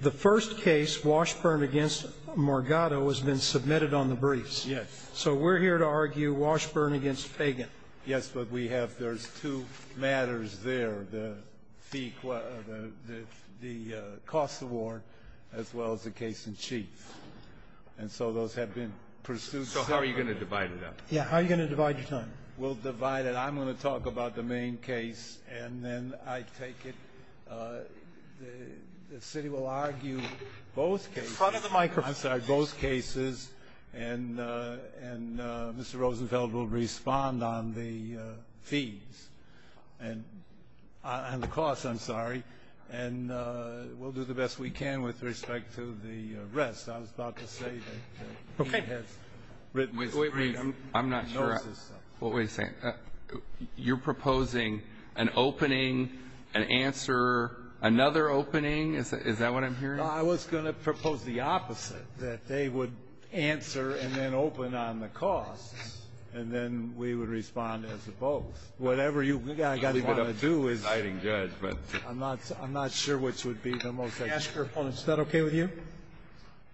The first case, Washburn v. Morgato, has been submitted on the briefs. Yes. So we're here to argue Washburn v. Fagan. Yes, but there's two matters there, the cost award as well as the case in chief. And so those have been pursued separately. So how are you going to divide it up? Yeah, how are you going to divide your time? We'll divide it. I'm going to talk about the main case, and then I take it the city will argue both cases. In front of the microphone. I'm sorry, both cases, and Mr. Rosenfeld will respond on the fees and the cost, I'm sorry. And we'll do the best we can with respect to the rest. I was about to say that he has written his brief. I'm not sure. What were you saying? You're proposing an opening, an answer, another opening? Is that what I'm hearing? No, I was going to propose the opposite, that they would answer and then open on the costs, and then we would respond as opposed. Whatever you guys want to do is the deciding judgment. I'm not sure which would be the most effective. Is that okay with you?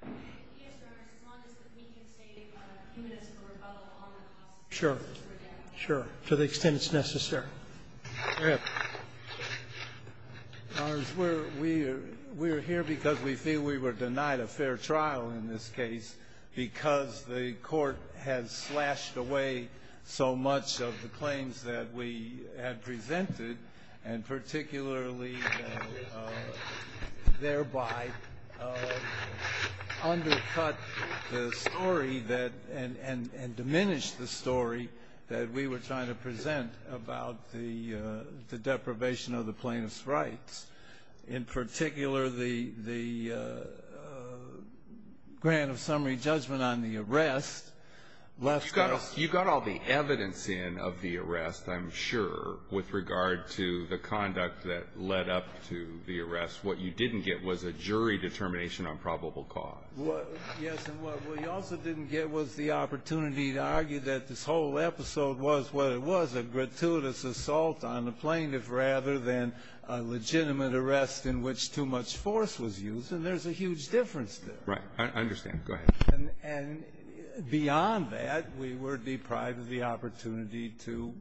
Yes, Your Honor, as long as we can take humanistic rebuttal on the cost. Sure, sure, to the extent it's necessary. Go ahead. Your Honor, we're here because we feel we were denied a fair trial in this case because the court has slashed away so much of the claims that we had presented, and particularly thereby undercut the story and diminished the story that we were trying to present about the deprivation of the plaintiff's rights. In particular, the grant of summary judgment on the arrest left us. You got all the evidence in of the arrest, I'm sure, with regard to the conduct that led up to the arrest. What you didn't get was a jury determination on probable cause. Yes, and what we also didn't get was the opportunity to argue that this whole episode was what it was, a gratuitous assault on the plaintiff rather than a legitimate arrest in which too much force was used, and there's a huge difference there. Right. I understand. Go ahead. And beyond that, we were deprived of the opportunity to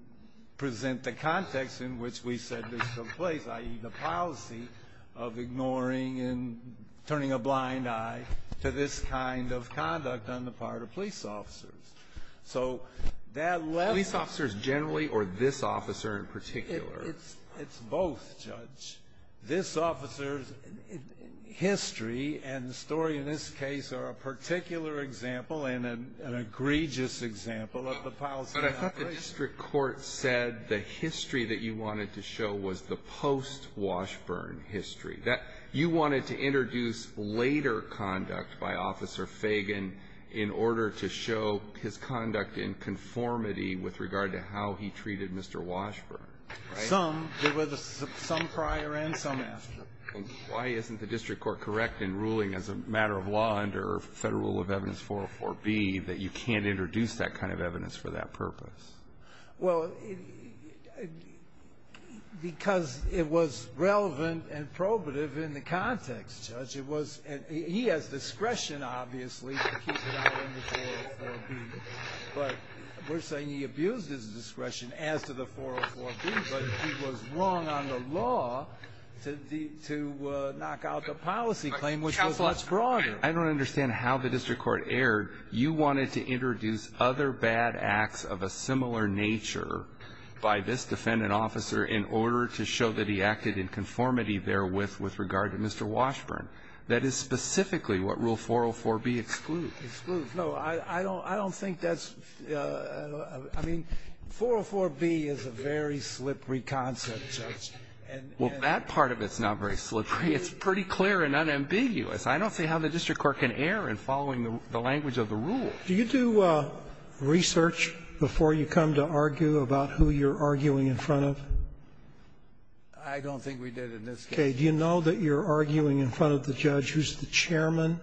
present the context in which we said this took place, i.e., the policy of ignoring and turning a blind eye to this kind of conduct on the part of police officers. So that left. Police officers generally or this officer in particular? It's both, Judge. This officer's history and story in this case are a particular example and an egregious example of the policy. But I thought the district court said the history that you wanted to show was the post-Washburn history. You wanted to introduce later conduct by Officer Fagan in order to show his conduct in conformity with regard to how he treated Mr. Washburn, right? Some. There was some prior and some after. Why isn't the district court correct in ruling as a matter of law under Federal Rule of Evidence 404B that you can't introduce that kind of evidence for that purpose? Well, because it was relevant and probative in the context, Judge. It was. He has discretion, obviously, to keep it out in the 404B. But we're saying he abused his discretion as to the 404B. But he was wrong on the law to knock out the policy claim, which was much broader. But I don't understand how the district court erred. You wanted to introduce other bad acts of a similar nature by this defendant officer in order to show that he acted in conformity therewith with regard to Mr. Washburn. That is specifically what Rule 404B excludes. It excludes. No, I don't think that's ---- I mean, 404B is a very slippery concept, Judge. And ---- Well, that part of it's not very slippery. It's pretty clear and unambiguous. I don't see how the district court can err in following the language of the rule. Do you do research before you come to argue about who you're arguing in front of? I don't think we did in this case. Okay. Do you know that you're arguing in front of the judge who's the chairman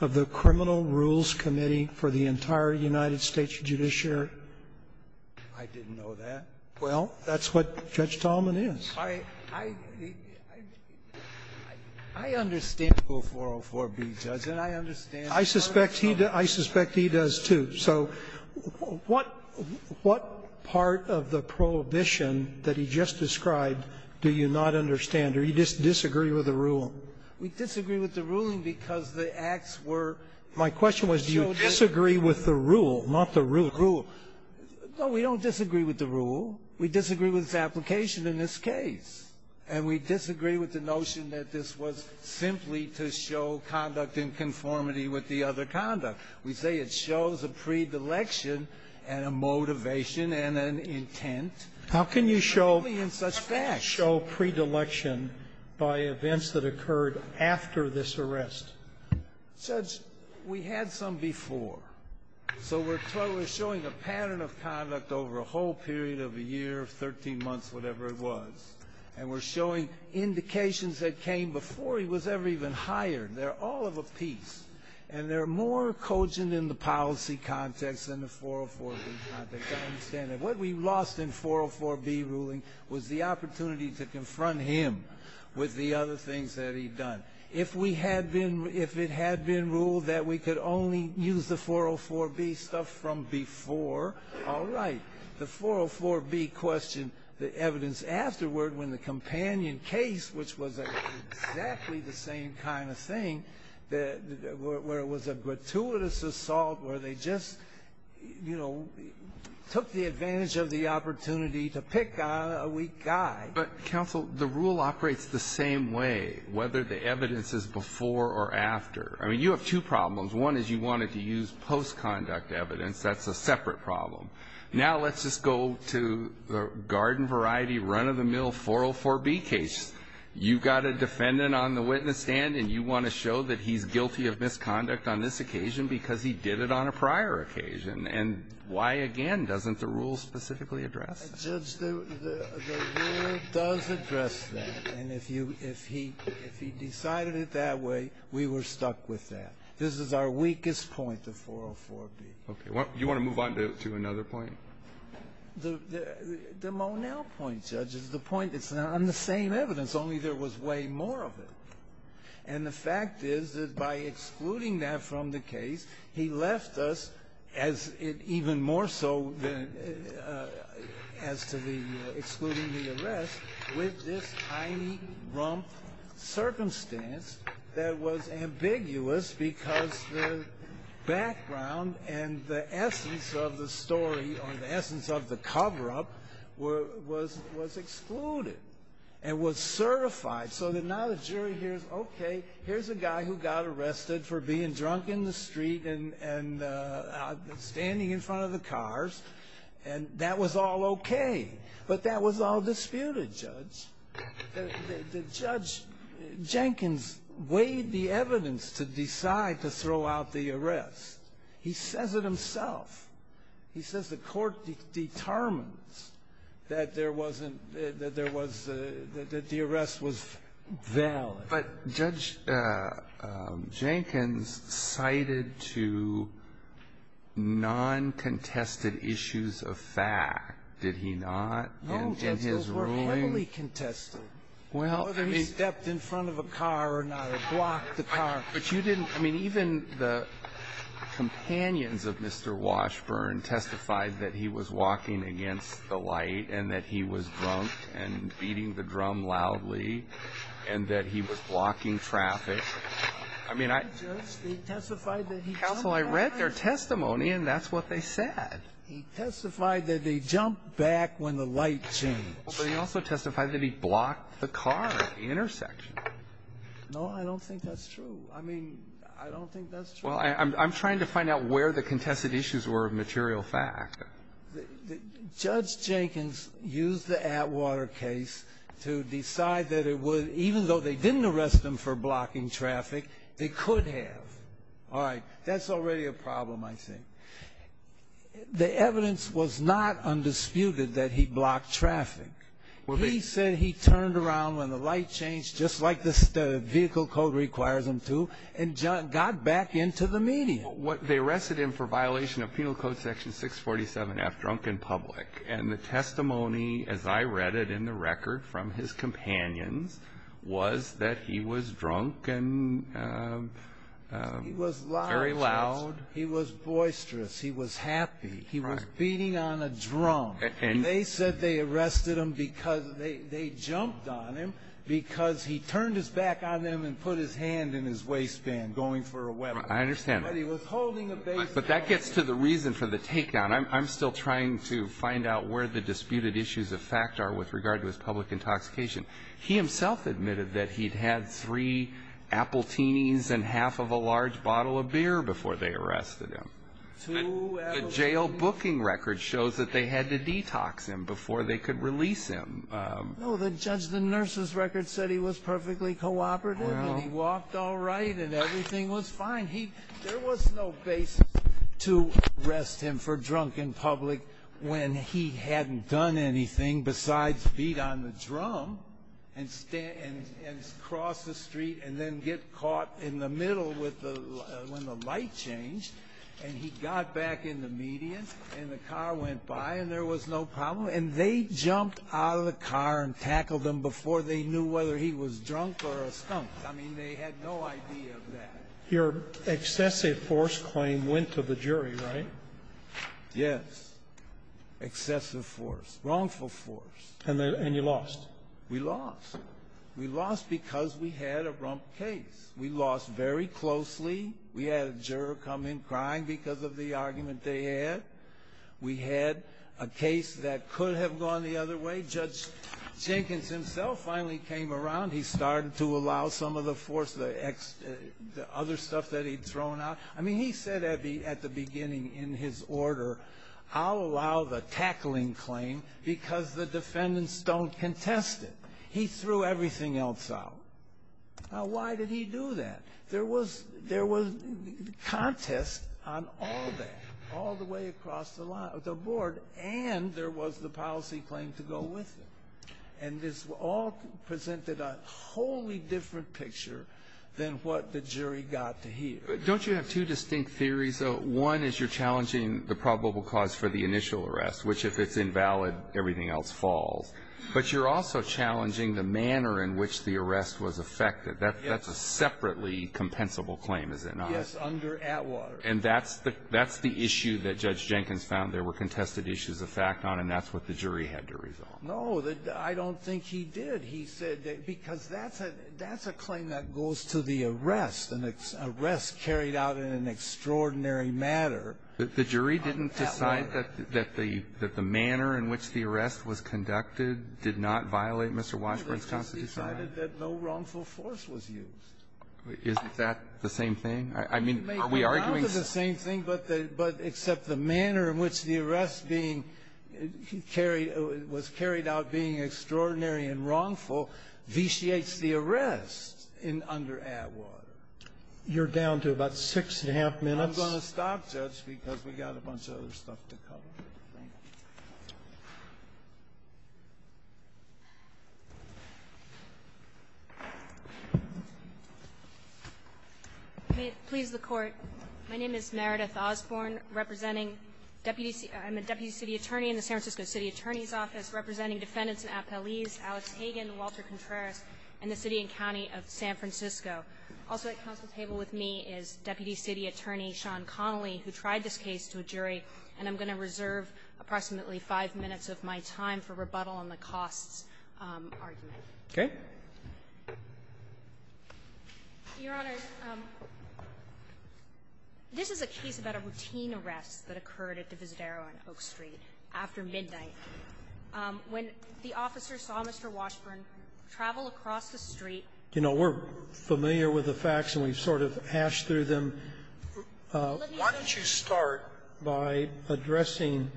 of the Criminal Rules Committee for the entire United States judiciary? I didn't know that. Well, that's what Judge Talman is. I understand Rule 404B, Judge, and I understand ---- I suspect he does, too. So what part of the prohibition that he just described do you not understand or you disagree with the rule? We disagree with the ruling because the acts were ---- My question was do you disagree with the rule, not the rule. The rule. No, we don't disagree with the rule. We disagree with its application in this case, and we disagree with the notion that this was simply to show conduct in conformity with the other conduct. We say it shows a predilection and a motivation and an intent. How can you show predilection by events that occurred after this arrest? Judge, we had some before. So we're showing a pattern of conduct over a whole period of a year, 13 months, whatever it was, and we're showing indications that came before he was ever even hired. They're all of a piece, and they're more cogent in the policy context than the 404B context. I understand that. What we lost in 404B ruling was the opportunity to confront him with the other things that he'd done. If we had been ---- if it had been ruled that we could only use the 404B stuff from before, all right. The 404B question, the evidence afterward when the companion case, which was exactly the same kind of thing, where it was a gratuitous assault, where they just, you know, took the advantage of the opportunity to pick a weak guy. But, counsel, the rule operates the same way, whether the evidence is before or after. I mean, you have two problems. One is you wanted to use postconduct evidence. That's a separate problem. Now let's just go to the garden variety run-of-the-mill 404B case. You've got a defendant on the witness stand, and you want to show that he's guilty of misconduct on this occasion because he did it on a prior occasion. And why, again, doesn't the rule specifically address that? Well, Judge, the rule does address that. And if you ---- if he decided it that way, we were stuck with that. This is our weakest point, the 404B. Okay. You want to move on to another point? The Monell point, Judge, is the point that's on the same evidence, only there was way more of it. And the fact is that by excluding that from the case, he left us as it even more so as to the excluding the arrest with this tiny, rump circumstance that was ambiguous because the background and the essence of the story or the essence of the coverup was excluded and was certified. So that now the jury hears, okay, here's a guy who got arrested for being drunk in the morning, and that was all okay, but that was all disputed, Judge. The judge, Jenkins, weighed the evidence to decide to throw out the arrest. He says it himself. He says the Court determines that there wasn't ---- that there was the ---- that the arrest was valid. But Judge Jenkins cited to non-contested issues of fact, did he not, in his ruling? No, Judge, those were heavily contested, whether he stepped in front of a car or not or blocked the car. But you didn't ---- I mean, even the companions of Mr. Washburn testified that he was walking against the light and that he was drunk and beating the drum loudly and that he was blocking traffic. I mean, I ---- He testified that he jumped back. Counsel, I read their testimony, and that's what they said. He testified that he jumped back when the light changed. But he also testified that he blocked the car at the intersection. No, I don't think that's true. I mean, I don't think that's true. Well, I'm trying to find out where the contested issues were of material fact. Judge Jenkins used the Atwater case to decide that it would, even though they didn't arrest him for blocking traffic, they could have. All right. That's already a problem, I think. The evidence was not undisputed that he blocked traffic. He said he turned around when the light changed, just like the vehicle code requires him to, and got back into the median. Well, they arrested him for violation of Penal Code Section 647F, drunk in public. And the testimony, as I read it in the record from his companions, was that he was drunk and very loud. He was loud. He was boisterous. He was happy. He was beating on a drum. And they said they arrested him because they jumped on him because he turned his back on them and put his hand in his waistband going for a weapon. I understand. But he was holding a baseball bat. But that gets to the reason for the takedown. I'm still trying to find out where the disputed issues of fact are with regard to his public intoxication. He himself admitted that he'd had three appletinis and half of a large bottle of beer before they arrested him. Two appletinis? The jail booking record shows that they had to detox him before they could release him. No, the judge, the nurse's record said he was perfectly cooperative and he walked all right and everything was fine. And there was no basis to arrest him for drunk in public when he hadn't done anything besides beat on the drum and cross the street and then get caught in the middle when the light changed and he got back in the median and the car went by and there was no problem. And they jumped out of the car and tackled him before they knew whether he was drunk or a skunk. I mean, they had no idea of that. Your excessive force claim went to the jury, right? Yes. Excessive force. Wrongful force. And you lost. We lost. We lost because we had a rump case. We lost very closely. We had a juror come in crying because of the argument they had. We had a case that could have gone the other way. Judge Jenkins himself finally came around. He started to allow some of the force, the other stuff that he'd thrown out. I mean, he said at the beginning in his order, I'll allow the tackling claim because the defendants don't contest it. He threw everything else out. Now, why did he do that? There was contest on all that, all the way across the board, and there was the policy claim to go with it. And this all presented a wholly different picture than what the jury got to hear. Don't you have two distinct theories, though? One is you're challenging the probable cause for the initial arrest, which if it's invalid, everything else falls. But you're also challenging the manner in which the arrest was effected. That's a separately compensable claim, is it not? Yes, under Atwater. And that's the issue that Judge Jenkins found there were contested issues of fact on, and that's what the jury had to resolve. No, I don't think he did. He said because that's a claim that goes to the arrest, an arrest carried out in an extraordinary matter. The jury didn't decide that the manner in which the arrest was conducted did not violate Mr. Washburn's constitutional right? They just decided that no wrongful force was used. Isn't that the same thing? I mean, are we arguing the same thing? No, but the – but except the manner in which the arrest being carried – was carried out being extraordinary and wrongful vitiates the arrest under Atwater. You're down to about six and a half minutes. I'm going to stop, Judge, because we've got a bunch of other stuff to cover. Thank you. Osborne. May it please the Court. My name is Meredith Osborne, representing deputy – I'm a deputy city attorney in the San Francisco City Attorney's Office, representing defendants in Apeliz, Alex Hagen, Walter Contreras, and the city and county of San Francisco. Also at council table with me is Deputy City Attorney Sean Connolly, who tried this case to a jury, and I'm going to reserve approximately five minutes of my time for rebuttal on the costs argument. Okay. Your Honors, this is a case about a routine arrest that occurred at Divisadero on Oak Street after midnight. When the officer saw Mr. Washburn travel across the street – You know, we're familiar with the facts and we've sort of hashed through them. Why don't you start by addressing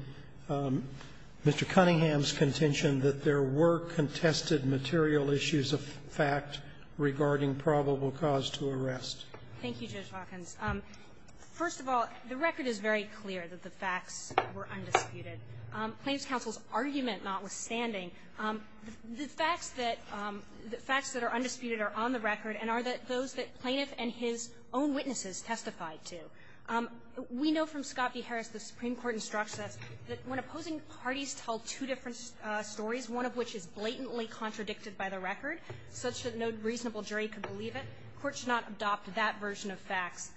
Mr. Cunningham's contention that there were contested material issues of fact regarding probable cause to arrest. Thank you, Judge Hawkins. First of all, the record is very clear that the facts were undisputed. Plaintiff's counsel's argument notwithstanding, the facts that are undisputed are on the record and are those that plaintiff and his own witnesses testified to. We know from Scott v. Harris, the Supreme Court instructs us that when opposing parties tell two different stories, one of which is blatantly contradicted by the record, such that no reasonable jury could believe it, courts should not adopt that version of facts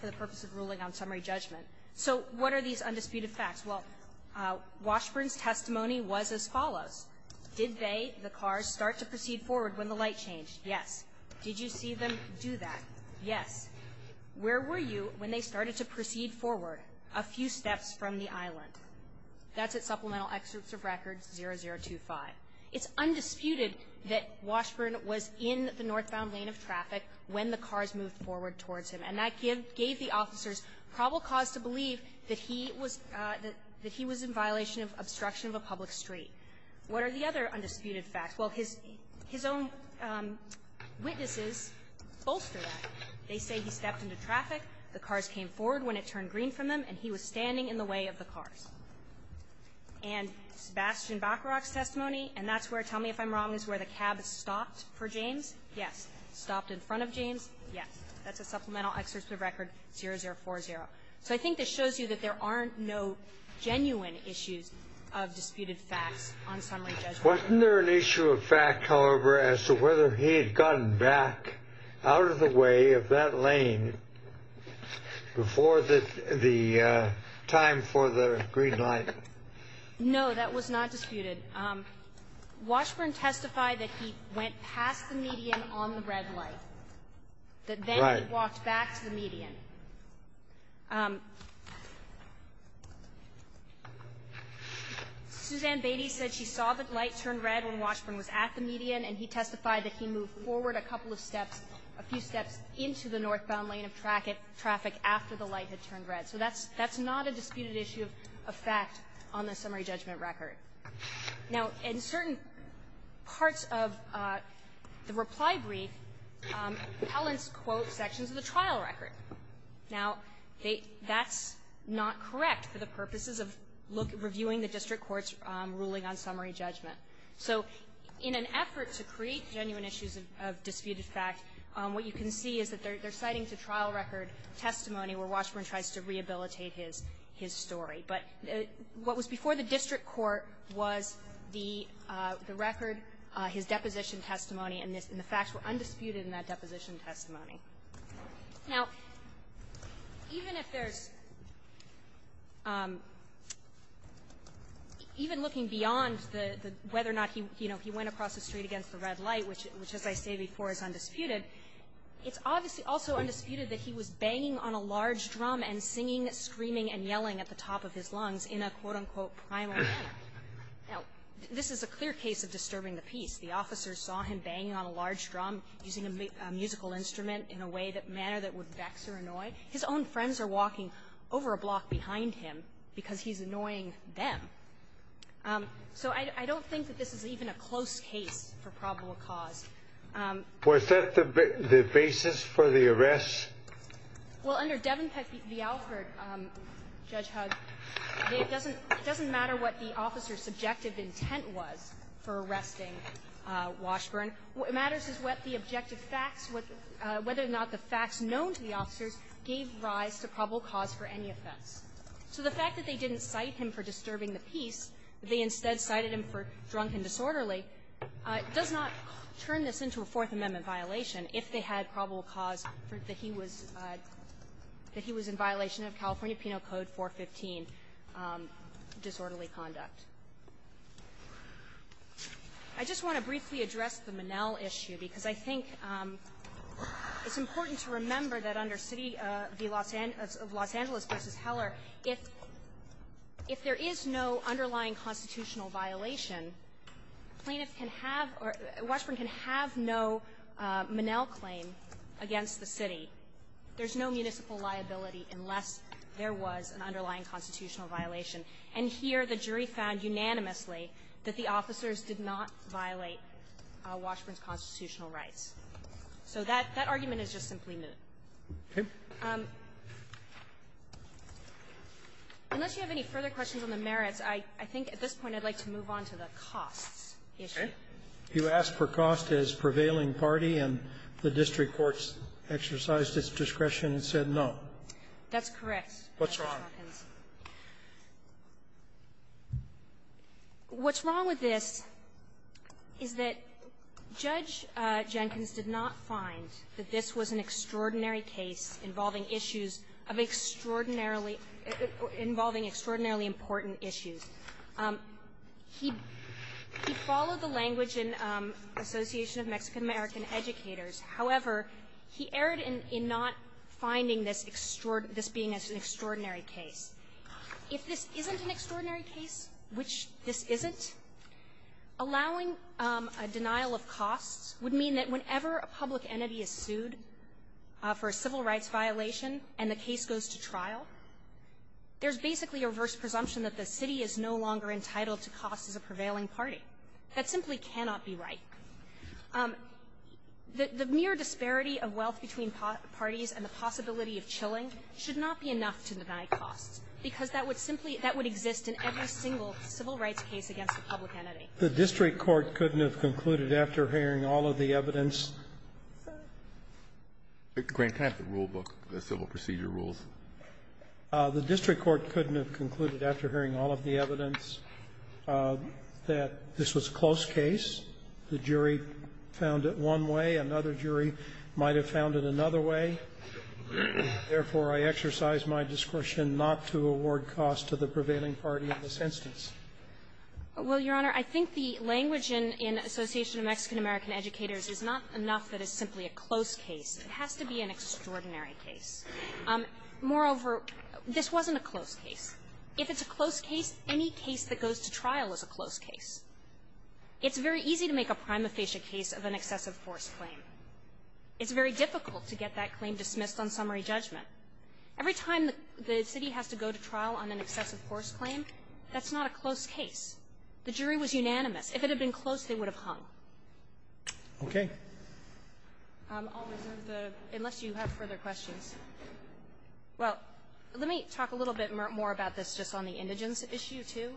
for the purpose of ruling on summary judgment. So what are these undisputed facts? Well, Washburn's testimony was as follows. Did they, the cars, start to proceed forward when the light changed? Yes. Did you see them do that? Yes. Where were you when they started to proceed forward a few steps from the island? That's at Supplemental Excerpts of Records 0025. It's undisputed that Washburn was in the northbound lane of traffic when the cars moved forward towards him, and that gave the officers probable cause to believe that he was – that he was in violation of obstruction of a public street. What are the other undisputed facts? Well, his own witnesses bolster that. They say he stepped into traffic, the cars came forward when it turned green from them, and he was standing in the way of the cars. And Sebastian Bacharach's testimony, and that's where, tell me if I'm wrong, is where the cab stopped for James? Yes. Stopped in front of James? Yes. That's at Supplemental Excerpts of Records 0040. So I think this shows you that there aren't no genuine issues of disputed facts on summary judgment. Wasn't there an issue of fact, however, as to whether he had gotten back out of the way of that lane before the time for the green light? No, that was not disputed. Washburn testified that he went past the median on the red light, that then he walked back to the median. Suzanne Beatty said she saw the light turn red when Washburn was at the median, and he testified that he moved forward a couple of steps, a few steps into the northbound lane of traffic after the light had turned red. So that's not a disputed issue of fact on the summary judgment record. Now, in certain parts of the reply brief, Allen's quote sections of the trial record. Now, that's not correct for the purposes of reviewing the district court's ruling on summary judgment. So in an effort to create genuine issues of disputed fact, what you can see is that they're citing the trial record testimony where Washburn tries to rehabilitate his story. But what was before the district court was the record, his deposition testimony, and the facts were undisputed in that deposition testimony. Now, even if there's – even looking beyond the – whether or not he, you know, he went across the street against the red light, which, as I say before, is undisputed, it's obviously also undisputed that he was banging on a large drum and singing, screaming, and yelling at the top of his lungs in a, quote, unquote, primal manner. Now, this is a clear case of disturbing the peace. The officer saw him banging on a large drum, using a musical instrument in a way that manner that would vex or annoy. His own friends are walking over a block behind him because he's annoying them. So I don't think that this is even a close case for probable cause. Was that the basis for the arrest? Well, under Devenpeck v. Alford, Judge Hugg, it doesn't matter what the officer's subjective intent was for arresting Washburn. What matters is what the objective facts, whether or not the facts known to the officers gave rise to probable cause for any offense. So the fact that they didn't cite him for disturbing the peace, they instead cited him for drunken disorderly, does not turn this into a Fourth Amendment violation if they had probable cause that he was – that he was in violation of California I just want to briefly address the Monell issue, because I think it's important to remember that under City v. Los Angeles v. Heller, if there is no underlying constitutional violation, plaintiffs can have – or Washburn can have no Monell claim against the City. There's no municipal liability unless there was an underlying constitutional violation. And here, the jury found unanimously that the officers did not violate Washburn's constitutional rights. So that – that argument is just simply moot. Okay. Unless you have any further questions on the merits, I think at this point I'd like to move on to the costs issue. Okay. You asked for cost as prevailing party, and the district courts exercised its discretion and said no. That's correct, Mr. Hopkins. What's wrong? What's wrong with this is that Judge Jenkins did not find that this was an extraordinary case involving issues of extraordinarily – involving extraordinarily important issues. He – he followed the language in Association of Mexican-American Educators. However, he erred in not finding this extraordinary – this being an extraordinary case. If this isn't an extraordinary case, which this isn't, allowing a denial of costs would mean that whenever a public entity is sued for a civil rights violation and the case goes to trial, there's basically a reverse presumption that the City is no longer entitled to cost as a prevailing party. That simply cannot be right. The – the mere disparity of wealth between parties and the possibility of chilling should not be enough to deny costs, because that would simply – that would exist in every single civil rights case against a public entity. The district court couldn't have concluded after hearing all of the evidence that this was a close case, the jury found it one way, another jury might have found it another way. Therefore, I exercise my discretion not to award costs to the prevailing party in this instance. Well, Your Honor, I think the language in – in Association of Mexican-American Educators is not enough that it's simply a close case. It has to be an extraordinary case. Moreover, this wasn't a close case. If it's a close case, any case that goes to trial is a close case. It's very easy to make a prima facie case of an excessive force claim. It's very difficult to get that claim dismissed on summary judgment. Every time the – the city has to go to trial on an excessive force claim, that's not a close case. The jury was unanimous. If it had been close, they would have hung. Okay. I'll reserve the – unless you have further questions. Well, let me talk a little bit more about this just on the indigence issue, too.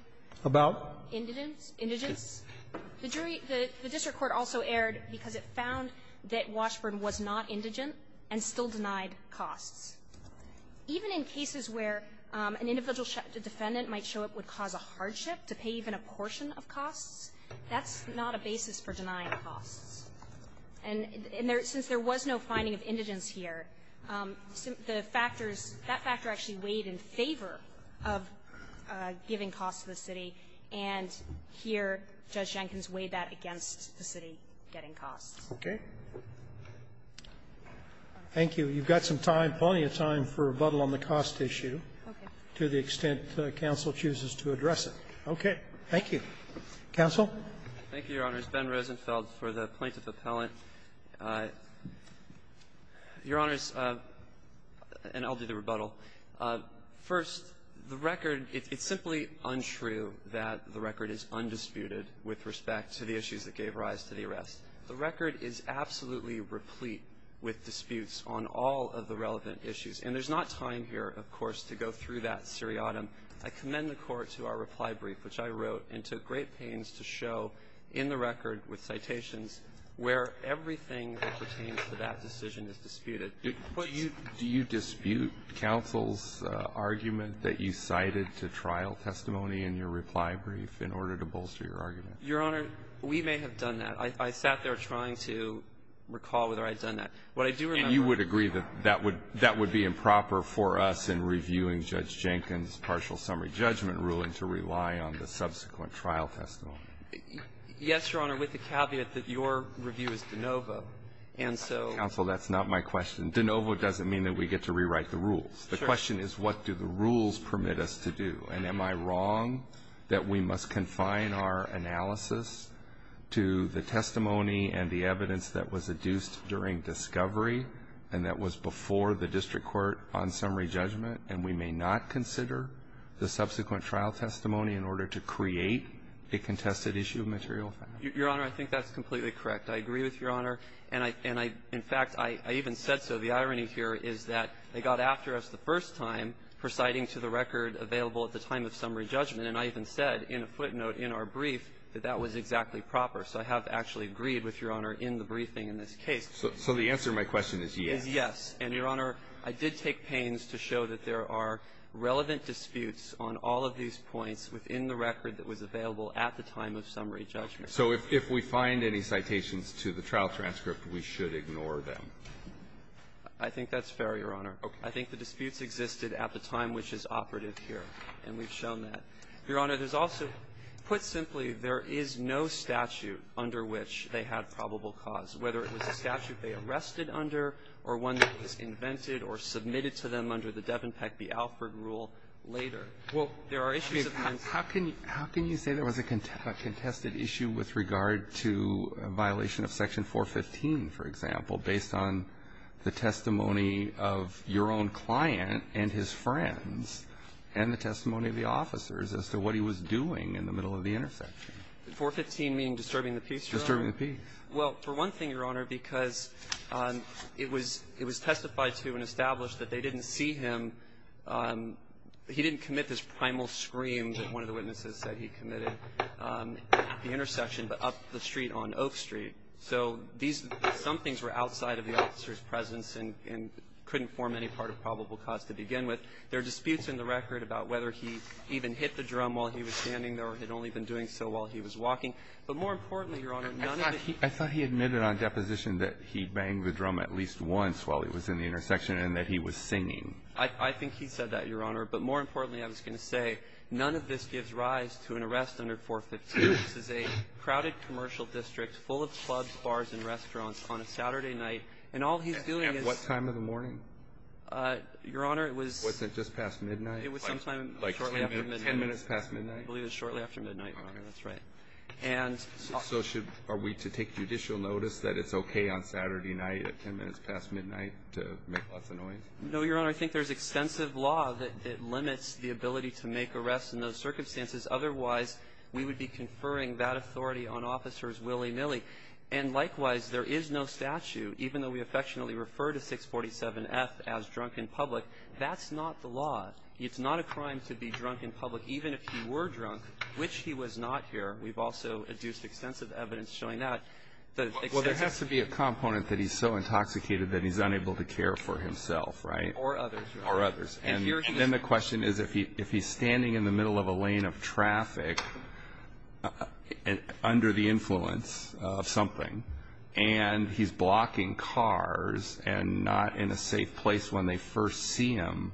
About? Indigence? Indigence? The jury – the district court also erred because it found that Washburn was not indigent and still denied costs. Even in cases where an individual defendant might show up would cause a hardship to pay even a portion of costs, that's not a basis for denying costs. And there – since there was no finding of indigence here, the factors – that And here, Judge Jenkins weighed that against the city getting costs. Okay. Thank you. You've got some time, plenty of time, for rebuttal on the cost issue. Okay. To the extent counsel chooses to address it. Okay. Thank you. Counsel? Thank you, Your Honors. Ben Rosenfeld for the plaintiff appellant. Your Honors, and I'll do the rebuttal. First, the record – it's simply untrue that the record is undisputed with respect to the issues that gave rise to the arrest. The record is absolutely replete with disputes on all of the relevant issues. And there's not time here, of course, to go through that seriatim. I commend the court to our reply brief, which I wrote and took great pains to show in the record with citations where everything that pertains to that decision is disputed. Do you dispute counsel's argument that you cited to trial testimony in your reply brief in order to bolster your argument? Your Honor, we may have done that. I sat there trying to recall whether I'd done that. What I do remember – And you would agree that that would be improper for us in reviewing Judge Jenkins' partial summary judgment ruling to rely on the subsequent trial testimony? Yes, Your Honor, with the caveat that your review is de novo. And so – Counsel, that's not my question. De novo doesn't mean that we get to rewrite the rules. The question is, what do the rules permit us to do? And am I wrong that we must confine our analysis to the testimony and the evidence that was adduced during discovery and that was before the district court on summary judgment, and we may not consider the subsequent trial testimony in order to create a contested issue of material facts? Your Honor, I think that's completely correct. I agree with Your Honor. And I – and I – in fact, I even said so. The irony here is that they got after us the first time for citing to the record available at the time of summary judgment, and I even said in a footnote in our brief that that was exactly proper. So I have actually agreed with Your Honor in the briefing in this case. So the answer to my question is yes? Is yes. And, Your Honor, I did take pains to show that there are relevant disputes on all of these points within the record that was available at the time of summary judgment. So if we find any citations to the trial transcript, we should ignore them. I think that's fair, Your Honor. Okay. I think the disputes existed at the time which is operative here, and we've shown that. Your Honor, there's also – put simply, there is no statute under which they had probable cause, whether it was a statute they arrested under or one that was invented or submitted to them under the Devenpeck v. Alford rule later. Well, there are issues of men's – How can – how can you say there was a contested issue with regard to a violation of Section 415, for example, based on the testimony of your own client and his friends and the testimony of the officers as to what he was doing in the middle of the intersection? 415 meaning disturbing the peace, Your Honor? Disturbing the peace. Well, for one thing, Your Honor, because it was – it was testified to and established that they didn't see him, he didn't commit this primal scream that one of the witnesses said he committed at the intersection, but up the street on Oak Street. So these – some things were outside of the officer's presence and couldn't form any part of probable cause to begin with. There are disputes in the record about whether he even hit the drum while he was standing there or had only been doing so while he was walking. But more importantly, Your Honor, none of the – I thought he – I thought he admitted on deposition that he banged the drum at least once while he was in the intersection and that he was singing. I think he said that, Your Honor. But more importantly, I was going to say, none of this gives rise to an arrest under 452. This is a crowded commercial district full of clubs, bars, and restaurants on a Saturday night, and all he's doing is – At what time of the morning? Your Honor, it was – Was it just past midnight? It was sometime shortly after midnight. Like 10 minutes past midnight? I believe it was shortly after midnight, Your Honor. That's right. And so should – are we to take judicial notice that it's okay on Saturday night at 10 minutes past midnight to make lots of noise? No, Your Honor. I think there's extensive law that limits the ability to make arrests in those circumstances. Otherwise, we would be conferring that authority on officers willy-nilly. And likewise, there is no statute, even though we affectionately refer to 647F as drunk in public, that's not the law. It's not a crime to be drunk in public, even if you were drunk, which he was not here. We've also adduced extensive evidence showing that. Well, there has to be a component that he's so intoxicated that he's unable to care for himself, right? Or others. Or others. And then the question is, if he's standing in the middle of a lane of traffic under the influence of something, and he's blocking cars and not in a safe place when they first see him,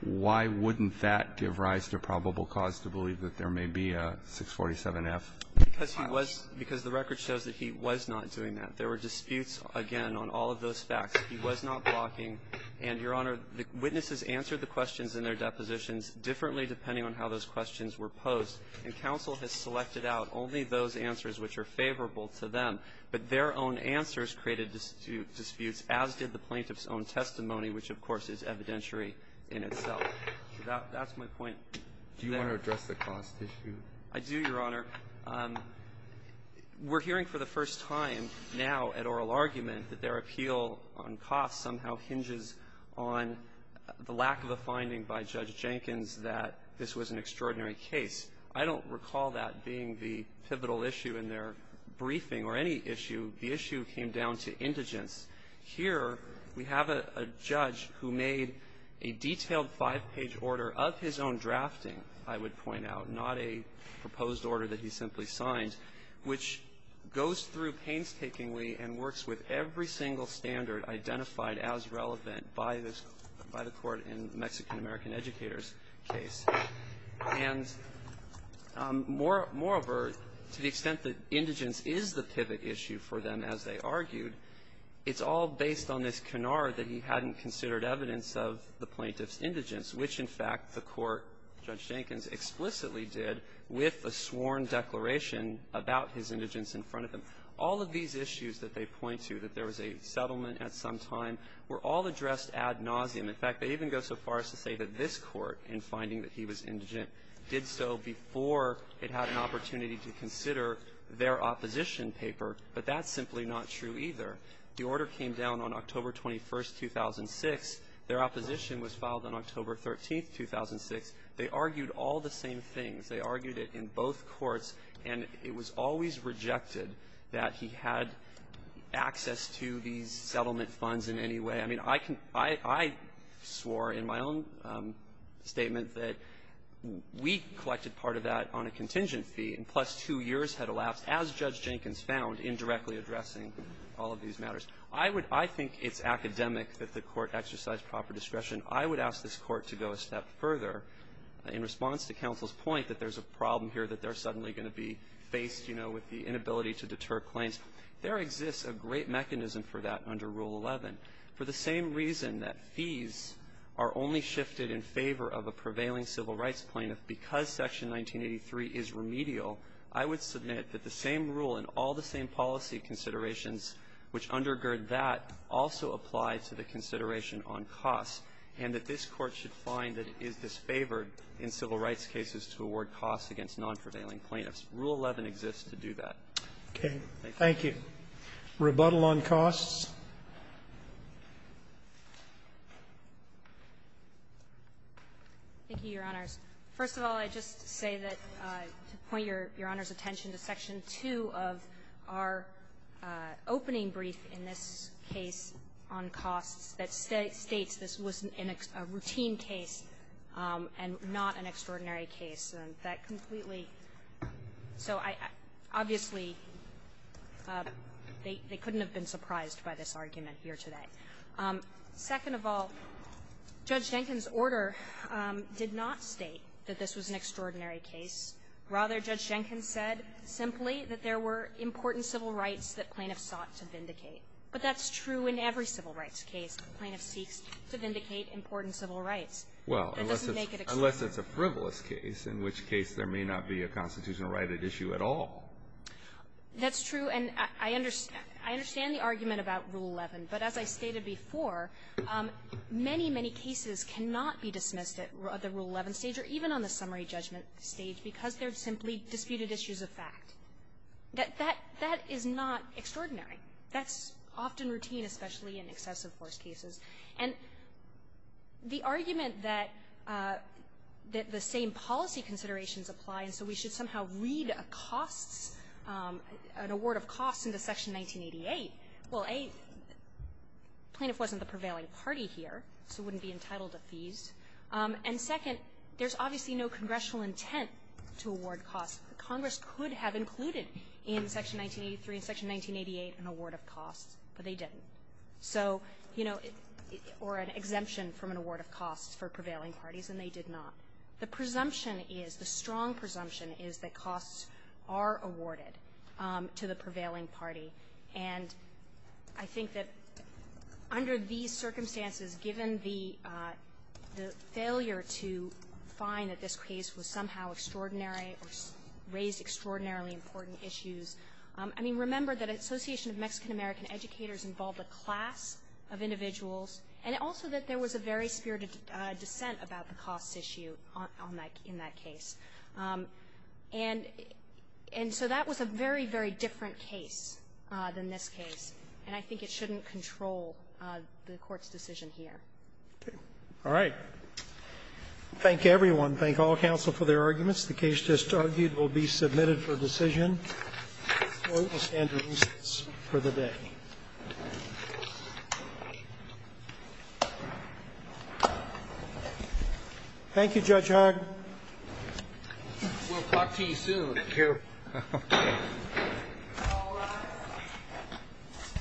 why wouldn't that give rise to probable cause to believe that there may be a 647F? Because he was – because the record shows that he was not doing that. There were disputes, again, on all of those facts. He was not blocking. And, Your Honor, the witnesses answered the questions in their depositions differently depending on how those questions were posed. And counsel has selected out only those answers which are favorable to them. But their own answers created disputes, as did the plaintiff's own testimony, which, of course, is evidentiary in itself. So that's my point. Do you want to address the cost issue? I do, Your Honor. We're hearing for the first time now at oral argument that their appeal on cost somehow hinges on the lack of a finding by Judge Jenkins that this was an extraordinary case. I don't recall that being the pivotal issue in their briefing or any issue. The issue came down to indigence. Here, we have a judge who made a detailed five-page order of his own drafting, I would point out, not a proposed order that he simply signed, which goes through painstakingly and works with every single standard identified as relevant by the Court in the Mexican-American Educators case. And moreover, to the extent that indigence is the pivot issue for them, as they argued, it's all based on this canard that he hadn't considered evidence of the case that Judge Jenkins explicitly did with a sworn declaration about his indigence in front of them. All of these issues that they point to, that there was a settlement at some time, were all addressed ad nauseum. In fact, they even go so far as to say that this Court, in finding that he was indigent, did so before it had an opportunity to consider their opposition paper, but that's simply not true either. The order came down on October 21, 2006. Their opposition was filed on October 13, 2006. They argued all the same things. They argued it in both courts. And it was always rejected that he had access to these settlement funds in any way. I mean, I can – I swore in my own statement that we collected part of that on a contingent fee, and plus two years had elapsed, as Judge Jenkins found, indirectly addressing all of these matters. I would – I think it's academic that the Court exercise proper discretion. I would ask this Court to go a step further in response to counsel's point that there's a problem here that they're suddenly going to be faced, you know, with the inability to deter claims. There exists a great mechanism for that under Rule 11. For the same reason that fees are only shifted in favor of a prevailing civil rights plaintiff because Section 1983 is remedial, I would submit that the same rule and all the same policy considerations which undergird that also apply to the consideration on costs, and that this Court should find that it is disfavored in civil rights cases to award costs against non-prevailing plaintiffs. Rule 11 exists to do that. Thank you. Roberts. Thank you. Rebuttal on costs. Thank you, Your Honors. First of all, I'd just say that to point Your Honor's attention to Section 2 of our opening brief in this case on costs that states this was a routine case and not an extraordinary case, and that completely – so I – obviously, they couldn't have been surprised by this argument here today. Second of all, Judge Jenkins' order did not state that this was an extraordinary case. Rather, Judge Jenkins said simply that there were important civil rights that plaintiffs sought to vindicate. But that's true in every civil rights case. The plaintiff seeks to vindicate important civil rights. That doesn't make it extraordinary. Well, unless it's a frivolous case, in which case there may not be a constitutional right at issue at all. That's true, and I understand the argument about Rule 11. But as I stated before, many, many cases cannot be dismissed at the Rule 11 stage or even on the summary judgment stage because they're simply disputed issues of fact. That is not extraordinary. That's often routine, especially in excessive force cases. And the argument that the same policy considerations apply and so we should somehow read a costs – an award of costs into Section 1988 – well, A, the plaintiff wasn't the prevailing party here, so it wouldn't be entitled to fees. And second, there's obviously no congressional intent to award costs. Congress could have included in Section 1983 and Section 1988 an award of costs, but they didn't. So – or an exemption from an award of costs for prevailing parties, and they did not. The presumption is, the strong presumption is that costs are awarded to the prevailing party. And I think that under these circumstances, given the failure to find that this case was somehow extraordinary or raised extraordinarily important issues, I mean, remember that Association of Mexican American Educators involved a class of individuals, and also that there was a very spirited dissent about the costs issue on that – in that case. And so that was a very, very different case than this case, and I think it shouldn't control the Court's decision here. Roberts. Thank you. Roberts. All right. Thank everyone. Thank all counsel for their arguments. The case just argued will be submitted for decision. The Court will stand to recess for the day. Thank you, Judge Hart. We'll talk to you soon. Thank you.